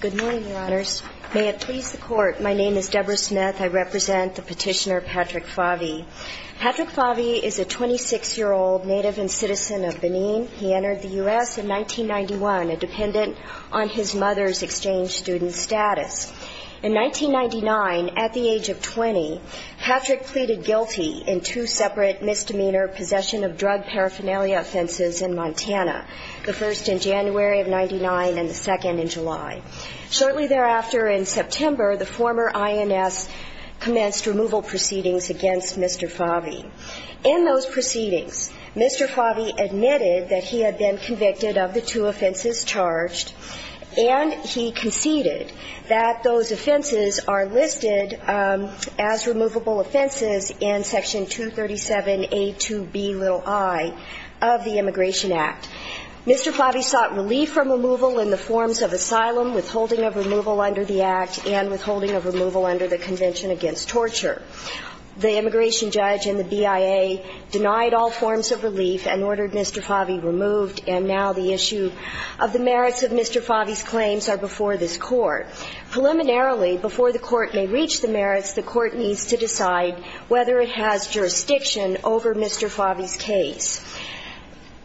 Good morning, Your Honors. May it please the Court, my name is Deborah Smith. I represent the petitioner Patrick Favi. Patrick Favi is a 26-year-old native and citizen of Benin. He entered the US in 1991, a dependent on his mother's exchange student status. In 1999, at the age of 20, Patrick pleaded guilty in two separate misdemeanor possession of drug paraphernalia offenses in Montana, the first in January of 99 and the second in July. Shortly thereafter, in September, the former INS commenced removal proceedings against Mr. Favi. In those proceedings, Mr. Favi admitted that he had been convicted of the two offenses charged, and he conceded that those offenses are listed as removable offenses in Section 237A2Bi of the Immigration Act. Mr. Favi sought relief from removal in the forms of asylum, withholding of removal under the Act, and withholding of removal under the Convention Against Torture. The immigration judge and the BIA denied all forms of relief and ordered Mr. Favi removed, and now the issue of the merits of Mr. Favi's claims are before this Court. Preliminarily, before the Court may reach the merits, the Court needs to decide whether it has jurisdiction over Mr. Favi's case.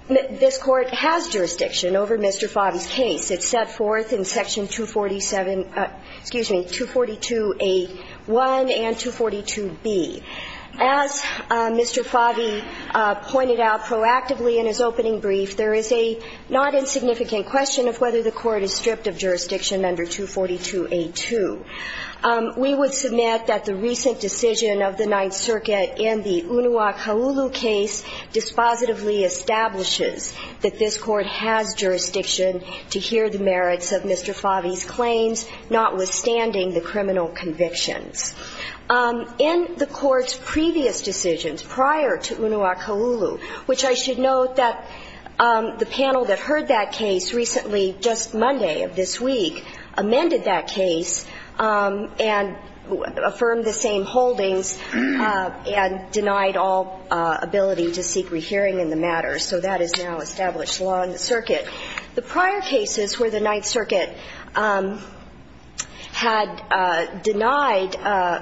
This Court has jurisdiction over Mr. Favi's case. It's set forth in Section 247, excuse me, 242A1 and 242B. As Mr. Favi pointed out proactively in his opening brief, there is a not insignificant question of whether the Court is stripped of jurisdiction under 242A2. We would submit that the recent decision of the Ninth Circuit in the Unua-Kaulu case dispositively establishes that this Court has jurisdiction to hear the merits of Mr. Favi's claims, notwithstanding the criminal convictions. In the Court's previous decisions prior to Unua-Kaulu, which I should note that the panel that heard that case recently, just Monday of this week, amended that case and affirmed the same holdings and denied all ability to seek rehearing in the matter. So that is now established law in the circuit. The prior cases where the Ninth Circuit had denied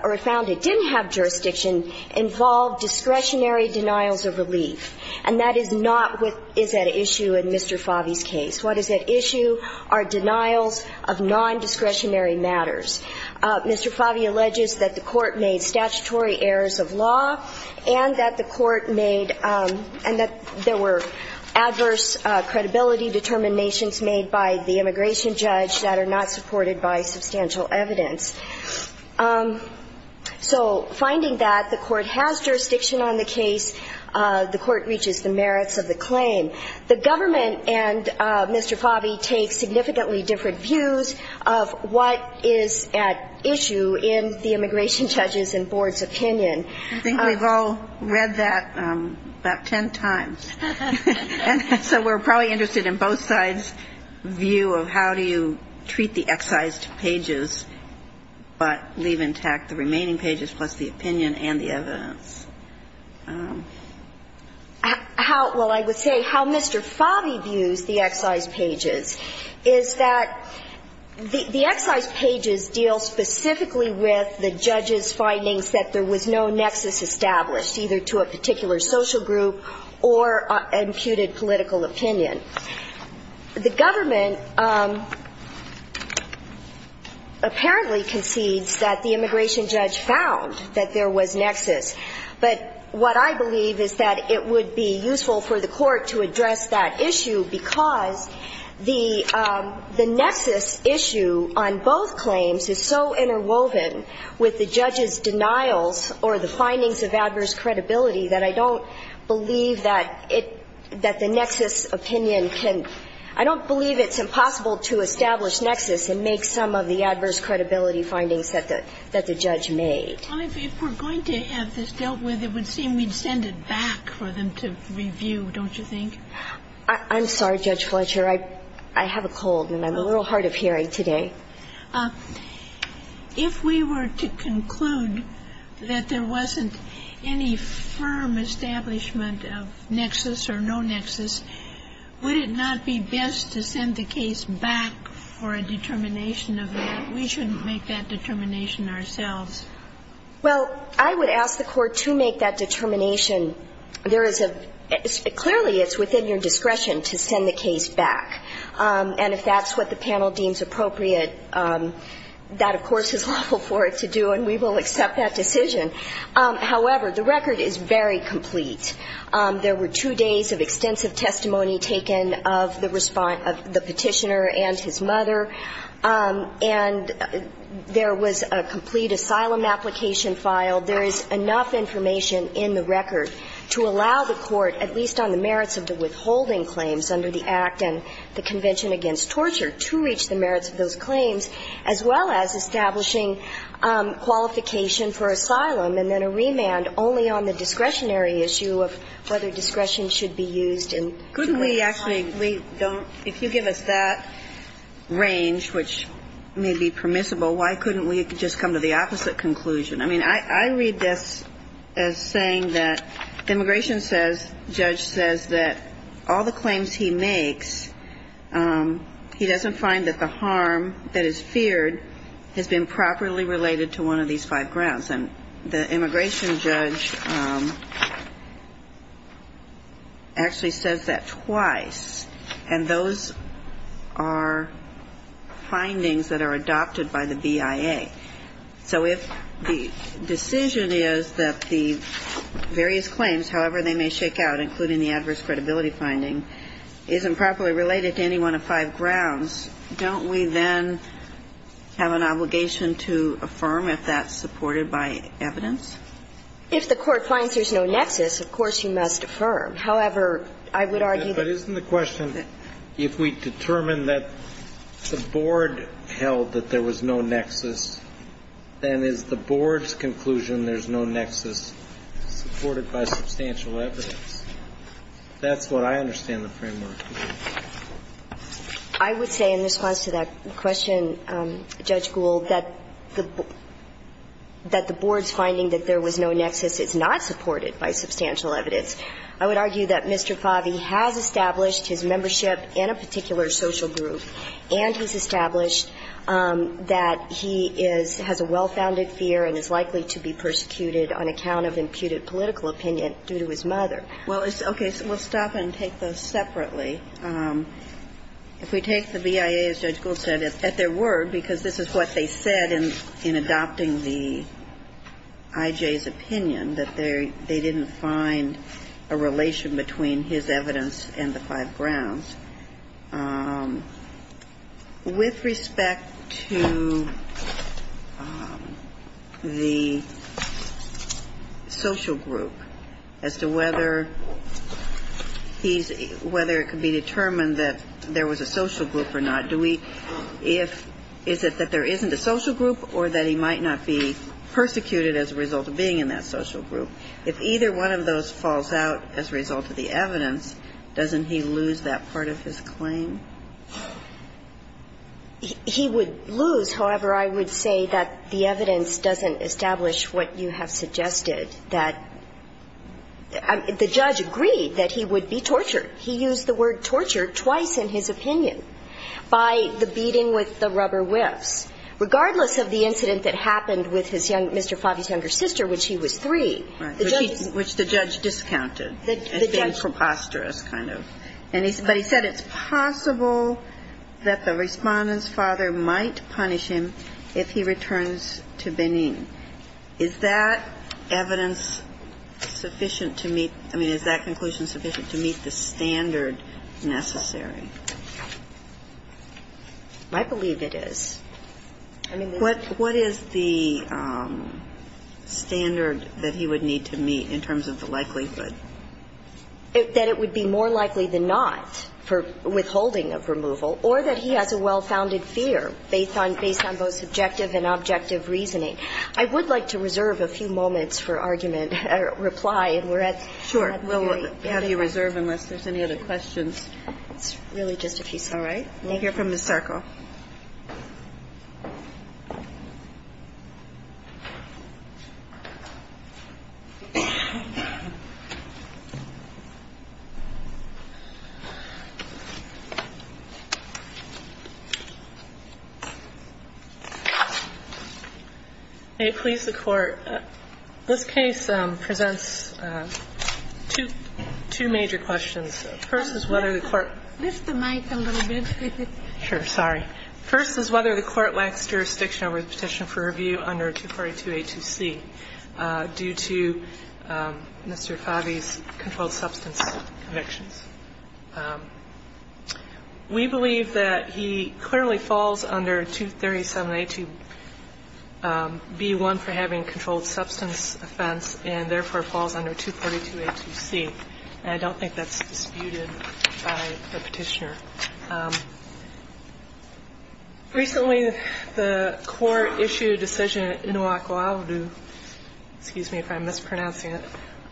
or found it didn't have jurisdiction involved discretionary denials of relief. And that is not what is at issue in Mr. Favi's case. What is at issue are denials of non-discretionary matters. Mr. Favi alleges that the Court made statutory errors of law and that the Court made and that there were adverse credibility determinations made by the immigration judge that are not supported by substantial evidence. So finding that the Court has jurisdiction on the case, the Court reaches the merits of the claim. The government and Mr. Favi take significantly different views of what is at issue in the immigration judge's and board's opinion. I think we've all read that about 10 times. So we're probably interested in both sides' view of how do you treat the excised pages, but leave intact the remaining pages plus the opinion and the evidence. Well, I would say how Mr. Favi views the excised pages is that the excised pages deal specifically with the judge's findings that there was no nexus established, either to a particular social group or an imputed political opinion. The government apparently concedes that the immigration judge found that there was nexus. But what I believe is that it would be useful for the Court to address that issue because the nexus issue on both claims is so interwoven with the judge's denials or the findings of adverse credibility that I don't believe that the nexus opinion can, I don't believe it's impossible to establish nexus and make some of the adverse credibility findings that the judge made. Well, if we're going to have this dealt with, it would seem we'd send it back for them to review, don't you think? I'm sorry, Judge Fletcher. I have a cold, and I'm a little hard of hearing today. If we were to conclude that there wasn't any firm establishment of nexus or no nexus, would it not be best to send the case back for a determination of that? We shouldn't make that determination ourselves. Well, I would ask the Court to make that determination. Clearly, it's within your discretion to send the case back. And if that's what the panel deems appropriate, that, of course, is lawful for it to do, and we will accept that decision. However, the record is very complete. There were two days of extensive testimony taken of the petitioner and his mother. And there was a complete asylum application filed. There is enough information in the record to allow the Court, at least on the merits of the withholding claims under the Act and the Convention Against Torture, to reach the merits of those claims, as well as establishing qualification for asylum, and then a remand only on the discretionary issue of whether discretion should be used in creating asylum. If you give us that range, which may be permissible, why couldn't we just come to the opposite conclusion? I mean, I read this as saying that the immigration judge says that all the claims he makes, he doesn't find that the harm that is feared has been properly related to one of these five grounds. The immigration judge actually says that twice, and those are findings that are adopted by the BIA. So if the decision is that the various claims, however they may shake out, including the adverse credibility finding, isn't properly related to any one of five grounds, don't we then have an obligation to affirm if that's supported by evidence? If the Court finds there's no nexus, of course, you must affirm. However, I would argue that the board's conclusion there's no nexus supported by substantial evidence, that's what I understand the framework to be. I would say in response to that question, Judge Gould, that the board's finding that there was no nexus is not supported by substantial evidence. I would argue that Mr. Favi has established his membership in a particular social group, and he's established that he has a well-founded fear and is likely to be persecuted on account of imputed political opinion due to his mother. Well, okay, so we'll stop and take those separately. If we take the BIA, as Judge Gould said, at their word, because this is what they said in adopting the I.J.'s opinion, that they didn't find a relation between his evidence and the five grounds. With respect to the social group as to whether he's – whether it could be a social group or not, do we – if – is it that there isn't a social group or that he might not be persecuted as a result of being in that social group? If either one of those falls out as a result of the evidence, doesn't he lose that part of his claim? He would lose. However, I would say that the evidence doesn't establish what you have suggested, that – the judge agreed that he would be tortured. He used the word torture twice in his opinion, by the beating with the rubber whips. Regardless of the incident that happened with his young – Mr. Favi's younger sister, which he was three, the judge's – Right. Which the judge discounted as being preposterous, kind of. And he – but he said it's possible that the Respondent's father might punish him if he returns to Benin. Is that evidence sufficient to meet – I mean, is that conclusion sufficient to meet the standard necessary? I believe it is. I mean, the – What – what is the standard that he would need to meet in terms of the likelihood? That it would be more likely than not for withholding of removal or that he has a well-founded fear based on – based on both subjective and objective reasoning. I would like to reserve a few moments for argument – reply, and we're at the very end of it. I have you reserved unless there's any other questions. It's really just a few seconds. All right. We'll hear from Ms. Sarko. May it please the Court. This case presents two – two major questions. First is whether the Court – Lift the mic a little bit. Sure. Sorry. First is whether the Court lacks jurisdiction over the petition for review under 242a2c due to Mr. Favi's controlled substance convictions. We believe that he clearly falls under 237a2b1 for having a controlled substance offense, and therefore falls under 242a2c. And I don't think that's disputed by the Petitioner. Recently, the Court issued a decision in Oahualu – excuse me if I'm mispronouncing it –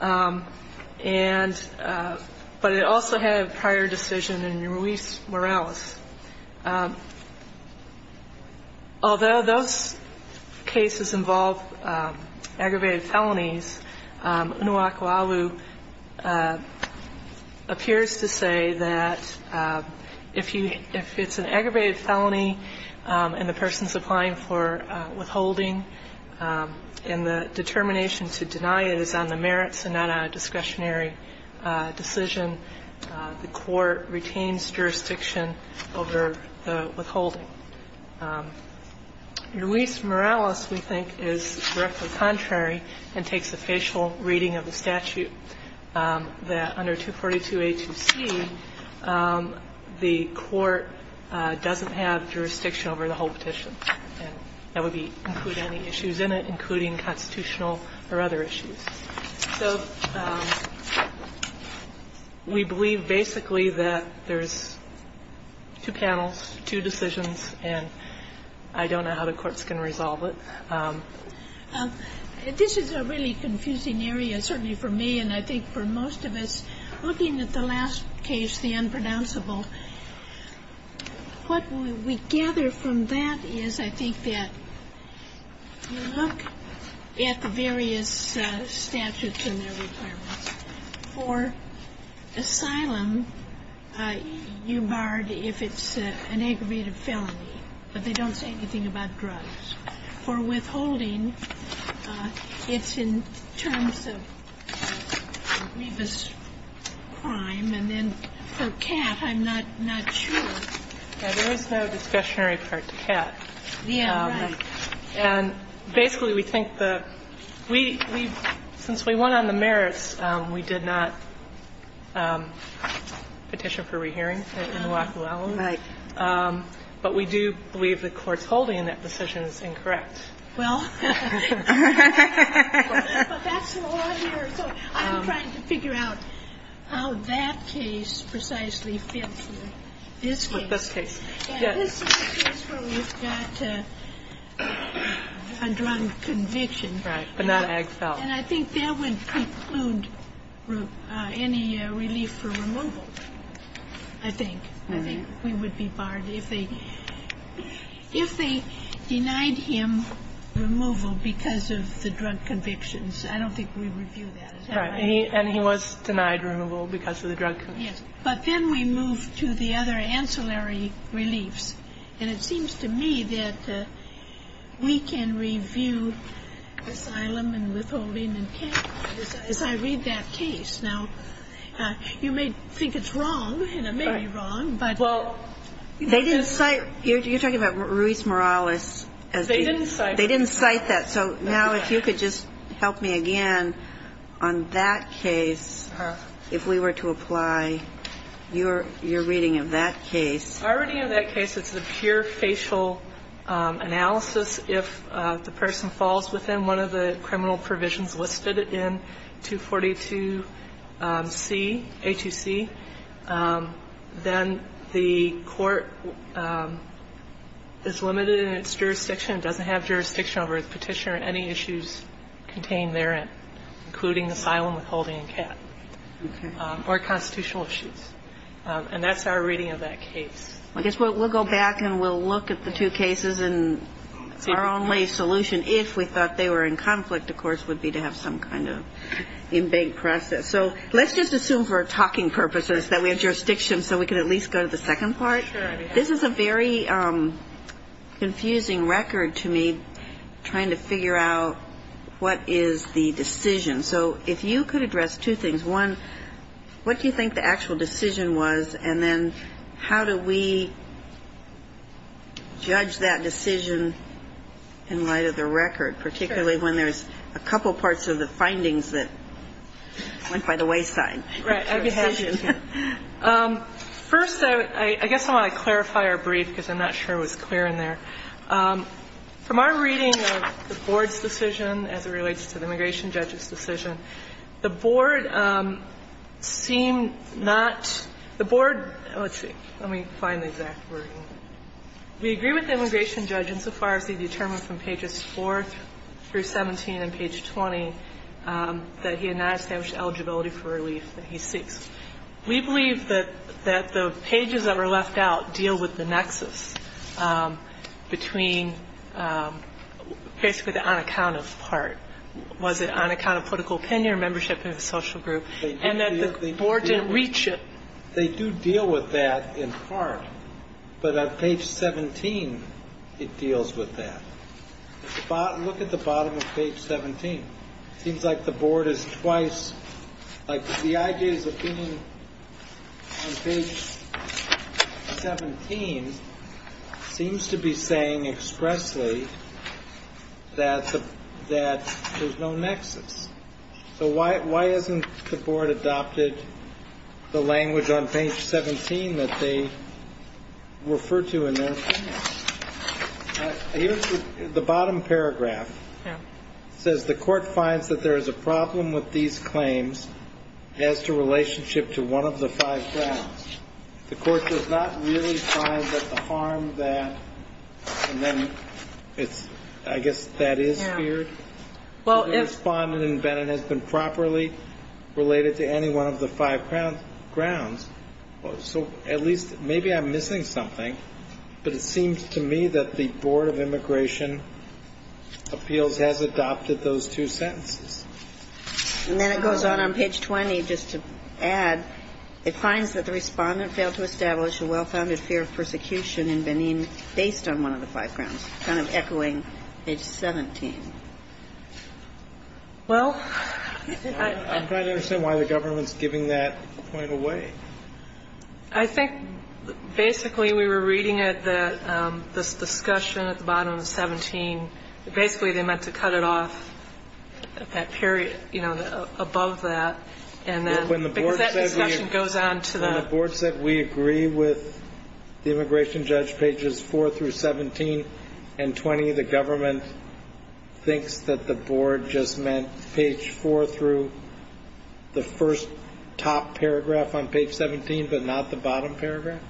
and – but it also had a prior decision in Ruiz-Morales. Although those cases involve aggravated felonies, Unuakaualu appears to say that if you – if it's an aggravated felony and the person's applying for withholding and the determination to deny it is on the merits and not on a discretionary decision, the Court retains jurisdiction over the withholding. Ruiz-Morales, we think, is directly contrary and takes a facial reading of the statute that under 242a2c, the Court doesn't have jurisdiction over the whole petition. And that would be – include any issues in it, including constitutional or other issues. So we believe basically that there's two panels, two decisions, and I don't know how the courts can resolve it. This is a really confusing area, certainly for me, and I think for most of us. Looking at the last case, the unpronounceable, what we gather from that is I think that you look at the various statutes and their requirements. For asylum, you barred if it's an aggravated felony, but they don't say anything about drugs. And so I think that's a really confusing area, and I don't know how the courts And I don't know how the courts can resolve it, but I do believe that for withholding, it's in terms of grievous crime, and then for CAT, I'm not sure. There is no discussionary part to CAT. And basically, we think the – we've – since we went on the merits, we did not petition for rehearing it in Oahu Island. Right. But we do believe the Court's holding in that decision is incorrect. Well, but that's the law here, so I'm trying to figure out how that case precisely fits with this case. With this case. Yes. This is a case where we've got a drug conviction. Right. But not Agfel. And I think that would preclude any relief for removal, I think. I think we would be barred if they – if they denied him removal because of the drug convictions. I don't think we review that. Right. And he was denied removal because of the drug convictions. Yes. But then we move to the other ancillary reliefs, and it seems to me that we can review asylum and withholding and CAT as I read that case. Now, you may think it's wrong, and it may be wrong, but – Well, they didn't cite – you're talking about Ruiz-Morales as being – They didn't cite that. They didn't cite that. So now, if you could just help me again on that case, if we were to apply your reading of that case. Our reading of that case, it's the pure facial analysis. If the person falls within one of the criminal provisions listed in 242C, A2C, then the court is limited in its jurisdiction. It doesn't have jurisdiction over the petition or any issues contained therein, including asylum, withholding, and CAT or constitutional issues. And that's our reading of that case. Well, I guess we'll go back and we'll look at the two cases, and our only solution, if we thought they were in conflict, of course, would be to have some kind of in-bank process. So let's just assume for talking purposes that we have jurisdiction so we can at least go to the second part. Sure. This is a very confusing record to me, trying to figure out what is the decision. So if you could address two things. One, what do you think the actual decision was? And then how do we judge that decision in light of the record, particularly when there's a couple parts of the findings that went by the wayside? Right. I have a question. First, I guess I want to clarify or brief, because I'm not sure it was clear in there. From our reading of the Board's decision as it relates to the immigration judge's decision, the Board seemed not the Board let's see, let me find the exact wording. We agree with the immigration judge insofar as he determined from pages 4 through 17 and page 20 that he had not established eligibility for relief that he seeks. We believe that the pages that were left out deal with the nexus between basically the on account of part. Was it on account of political opinion or membership in a social group? And that the Board didn't reach it. They do deal with that in part. But on page 17, it deals with that. Look at the bottom of page 17. Seems like the Board is twice, like the ideas of being on page 17 seems to be saying expressly that there's no nexus. So why hasn't the Board adopted the language on page 17 that they refer to in their findings? The bottom paragraph says the court finds that there is a problem with these claims as to relationship to one of the five grounds. The court does not really find that the harm that, and then it's, I guess that is feared, has been properly related to any one of the five grounds. So at least maybe I'm missing something, but it seems to me that the Board of Immigration Appeals has adopted those two sentences. And then it goes on on page 20, just to add, it finds that the respondent failed to establish a well-founded fear of persecution in Benin based on one of the five grounds. Kind of echoing page 17. Well, I'm trying to understand why the government's giving that point away. I think basically we were reading it that this discussion at the bottom of 17, basically they meant to cut it off at that period, you know, above that. And then when the board goes on to the board said we agree with the immigration judge pages four through 17 and 20, the government thinks that the board just meant page four through the first top paragraph on page 17, but not the bottom paragraph.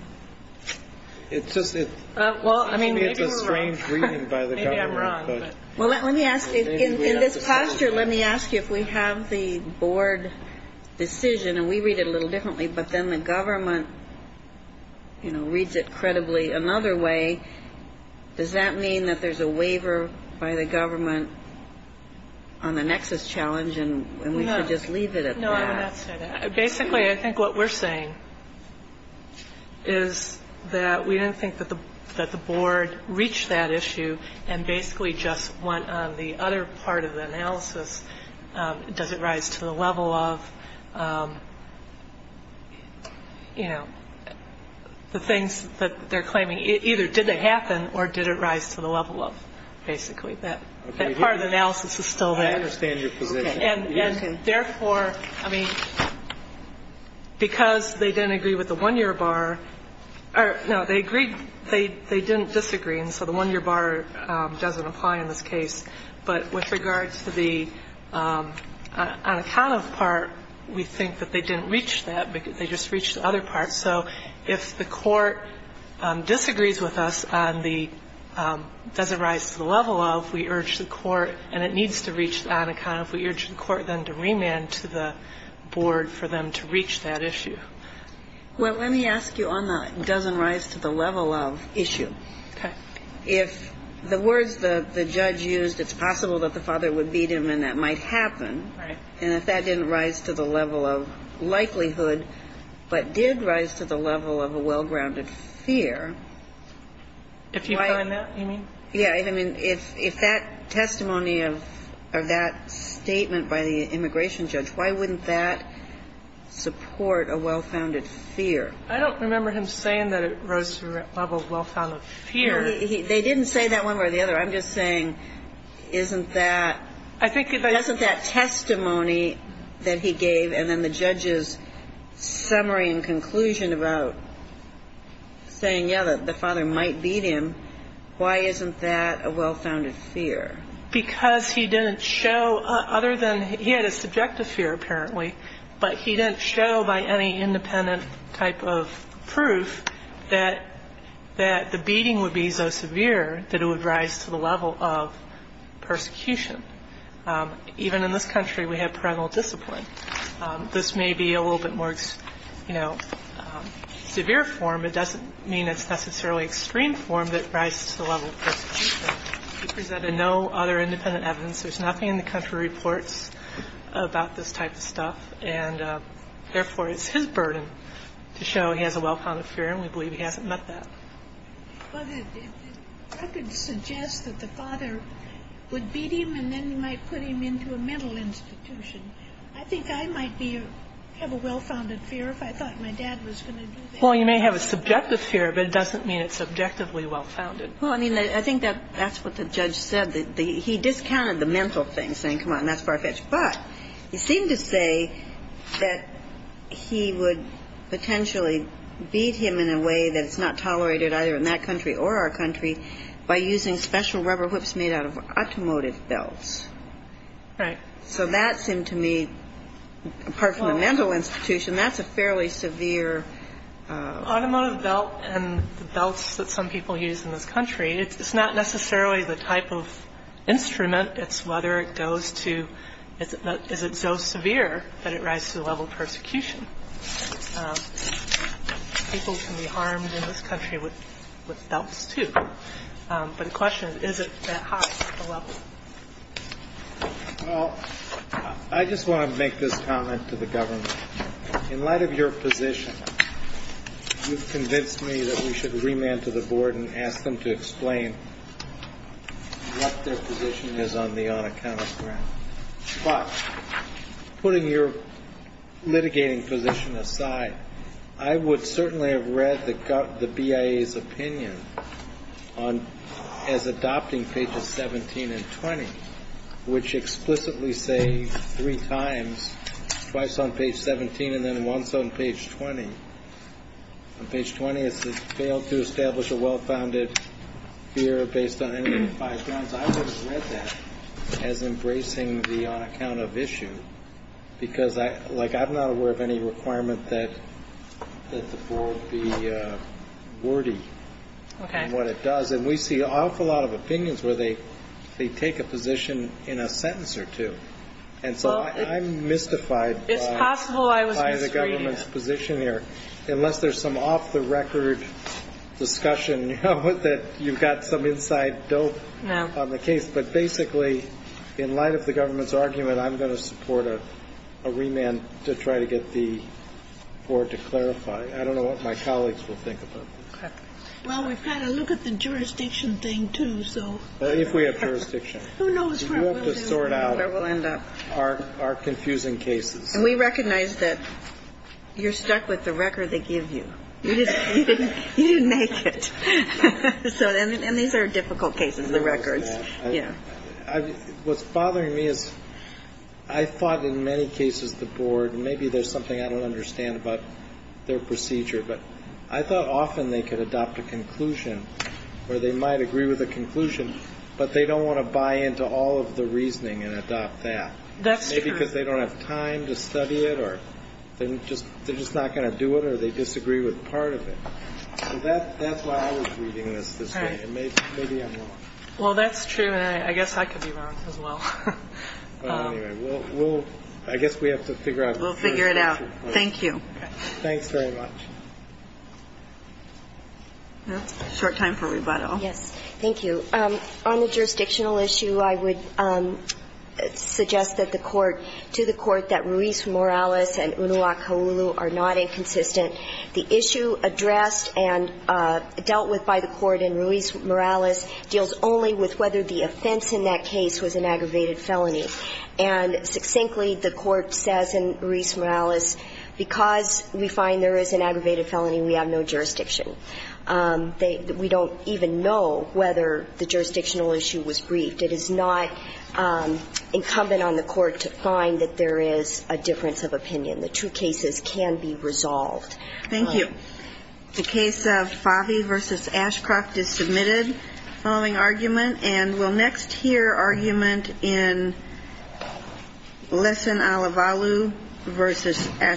It's just, it seems to me it's a strange reading by the government. Well, let me ask you, in this posture, let me ask you if we have the board decision, and we read it a little differently, but then the government, you know, reads it credibly another way, does that mean that there's a waiver by the government on the nexus challenge, and we should just leave it at that? No, I would not say that. Basically, I think what we're saying is that we don't think that the board reached that issue and basically just went on the other part of the analysis, does it rise to the level of, you know, the things that they're claiming, either did it happen or did it rise to the level of, basically. That part of the analysis is still there. I understand your position. And therefore, I mean, because they didn't agree with the one-year bar or, no, they agreed, they didn't disagree, and so the one-year bar doesn't apply in this case. But with regard to the unaccounted part, we think that they didn't reach that, they just reached the other part. So if the court disagrees with us on the, does it rise to the level of, we urge the court, and it needs to reach the unaccounted, we urge the court then to remand to the board for them to reach that issue. Well, let me ask you on the does it rise to the level of issue. Okay. If the words the judge used, it's possible that the father would beat him and that might happen, and if that didn't rise to the level of likelihood, but did rise to the level of a well-grounded fear, why do you think that's the case? The testimony of, or that statement by the immigration judge, why wouldn't that support a well-founded fear? I don't remember him saying that it rose to the level of well-founded fear. They didn't say that one way or the other. I'm just saying, isn't that, isn't that testimony that he gave and then the judge's summary and conclusion about saying, yeah, the father might beat him, why isn't that a well-founded fear? Because he didn't show, other than he had a subjective fear apparently, but he didn't show by any independent type of proof that the beating would be so severe that it would rise to the level of persecution. Even in this country, we have parental discipline. This may be a little bit more, you know, severe form. It doesn't mean it's necessarily extreme form that rises to the level of persecution. He presented no other independent evidence. There's nothing in the country reports about this type of stuff, and therefore, it's his burden to show he has a well-founded fear, and we believe he hasn't met that. But I could suggest that the father would beat him, and then you might put him into a mental institution. I think I might be, have a well-founded fear if I thought my dad was going to do that. Well, you may have a subjective fear, but it doesn't mean it's subjectively well-founded. Well, I mean, I think that's what the judge said. He discounted the mental thing, saying, come on, that's far-fetched. But he seemed to say that he would potentially beat him in a way that's not tolerated either in that country or our country by using special rubber whips made out of automotive belts. Right. So that seemed to me, apart from the mental institution, that's a fairly severe. Automotive belt and the belts that some people use in this country, it's not necessarily the type of instrument. It's whether it goes to, is it so severe that it rises to the level of persecution. People can be harmed in this country with belts, too. But the question is, is it that high of a level? Well, I just want to make this comment to the government. In light of your position, you've convinced me that we should remand to the board and ask them to explain what their position is on the unaccounted grant. But putting your litigating position aside, I would certainly have read the BIA's opinion on, as adopting pages 17 and 20, which explicitly say three times, twice on page 17 and then once on page 20. On page 20, it says, failed to establish a well-founded fear based on any of the five grounds. I would have read that as embracing the unaccounted issue. Because I'm not aware of any requirement that the board be wordy in what it does. And we see an awful lot of opinions where they take a position in a sentence or two. And so I'm mystified by the government's position here. Unless there's some off-the-record discussion with it, you've got some inside dope on the case. But basically, in light of the government's argument, I'm going to support a remand to try to get the board to clarify. I don't know what my colleagues will think about this. Well, we've got to look at the jurisdiction thing, too, so. Well, if we have jurisdiction. Who knows where we'll end up. Are confusing cases. And we recognize that you're stuck with the record they give you. You didn't make it. And these are difficult cases, the records. What's bothering me is I thought in many cases the board, and maybe there's something I don't understand about their procedure, but I thought often they could adopt a conclusion, or they might agree with a conclusion, but they don't want to into all of the reasoning and adopt that. That's true. Maybe because they don't have time to study it, or they're just not going to do it, or they disagree with part of it. That's why I was reading this this morning, and maybe I'm wrong. Well, that's true, and I guess I could be wrong as well. Well, anyway, we'll, I guess we have to figure out. We'll figure it out. Thank you. Thanks very much. Short time for rebuttal. Yes. Thank you. On the jurisdictional issue, I would suggest that the Court, to the Court that Ruiz-Morales and Unua Kauulu are not inconsistent. The issue addressed and dealt with by the Court in Ruiz-Morales deals only with whether the offense in that case was an aggravated felony. And succinctly, the Court says in Ruiz-Morales, because we find there is an aggravated felony, we have no jurisdiction. We don't even know whether the jurisdictional issue was briefed. It is not incumbent on the Court to find that there is a difference of opinion. The two cases can be resolved. Thank you. The case of Favee v. Ashcroft is submitted, following argument, and we'll next hear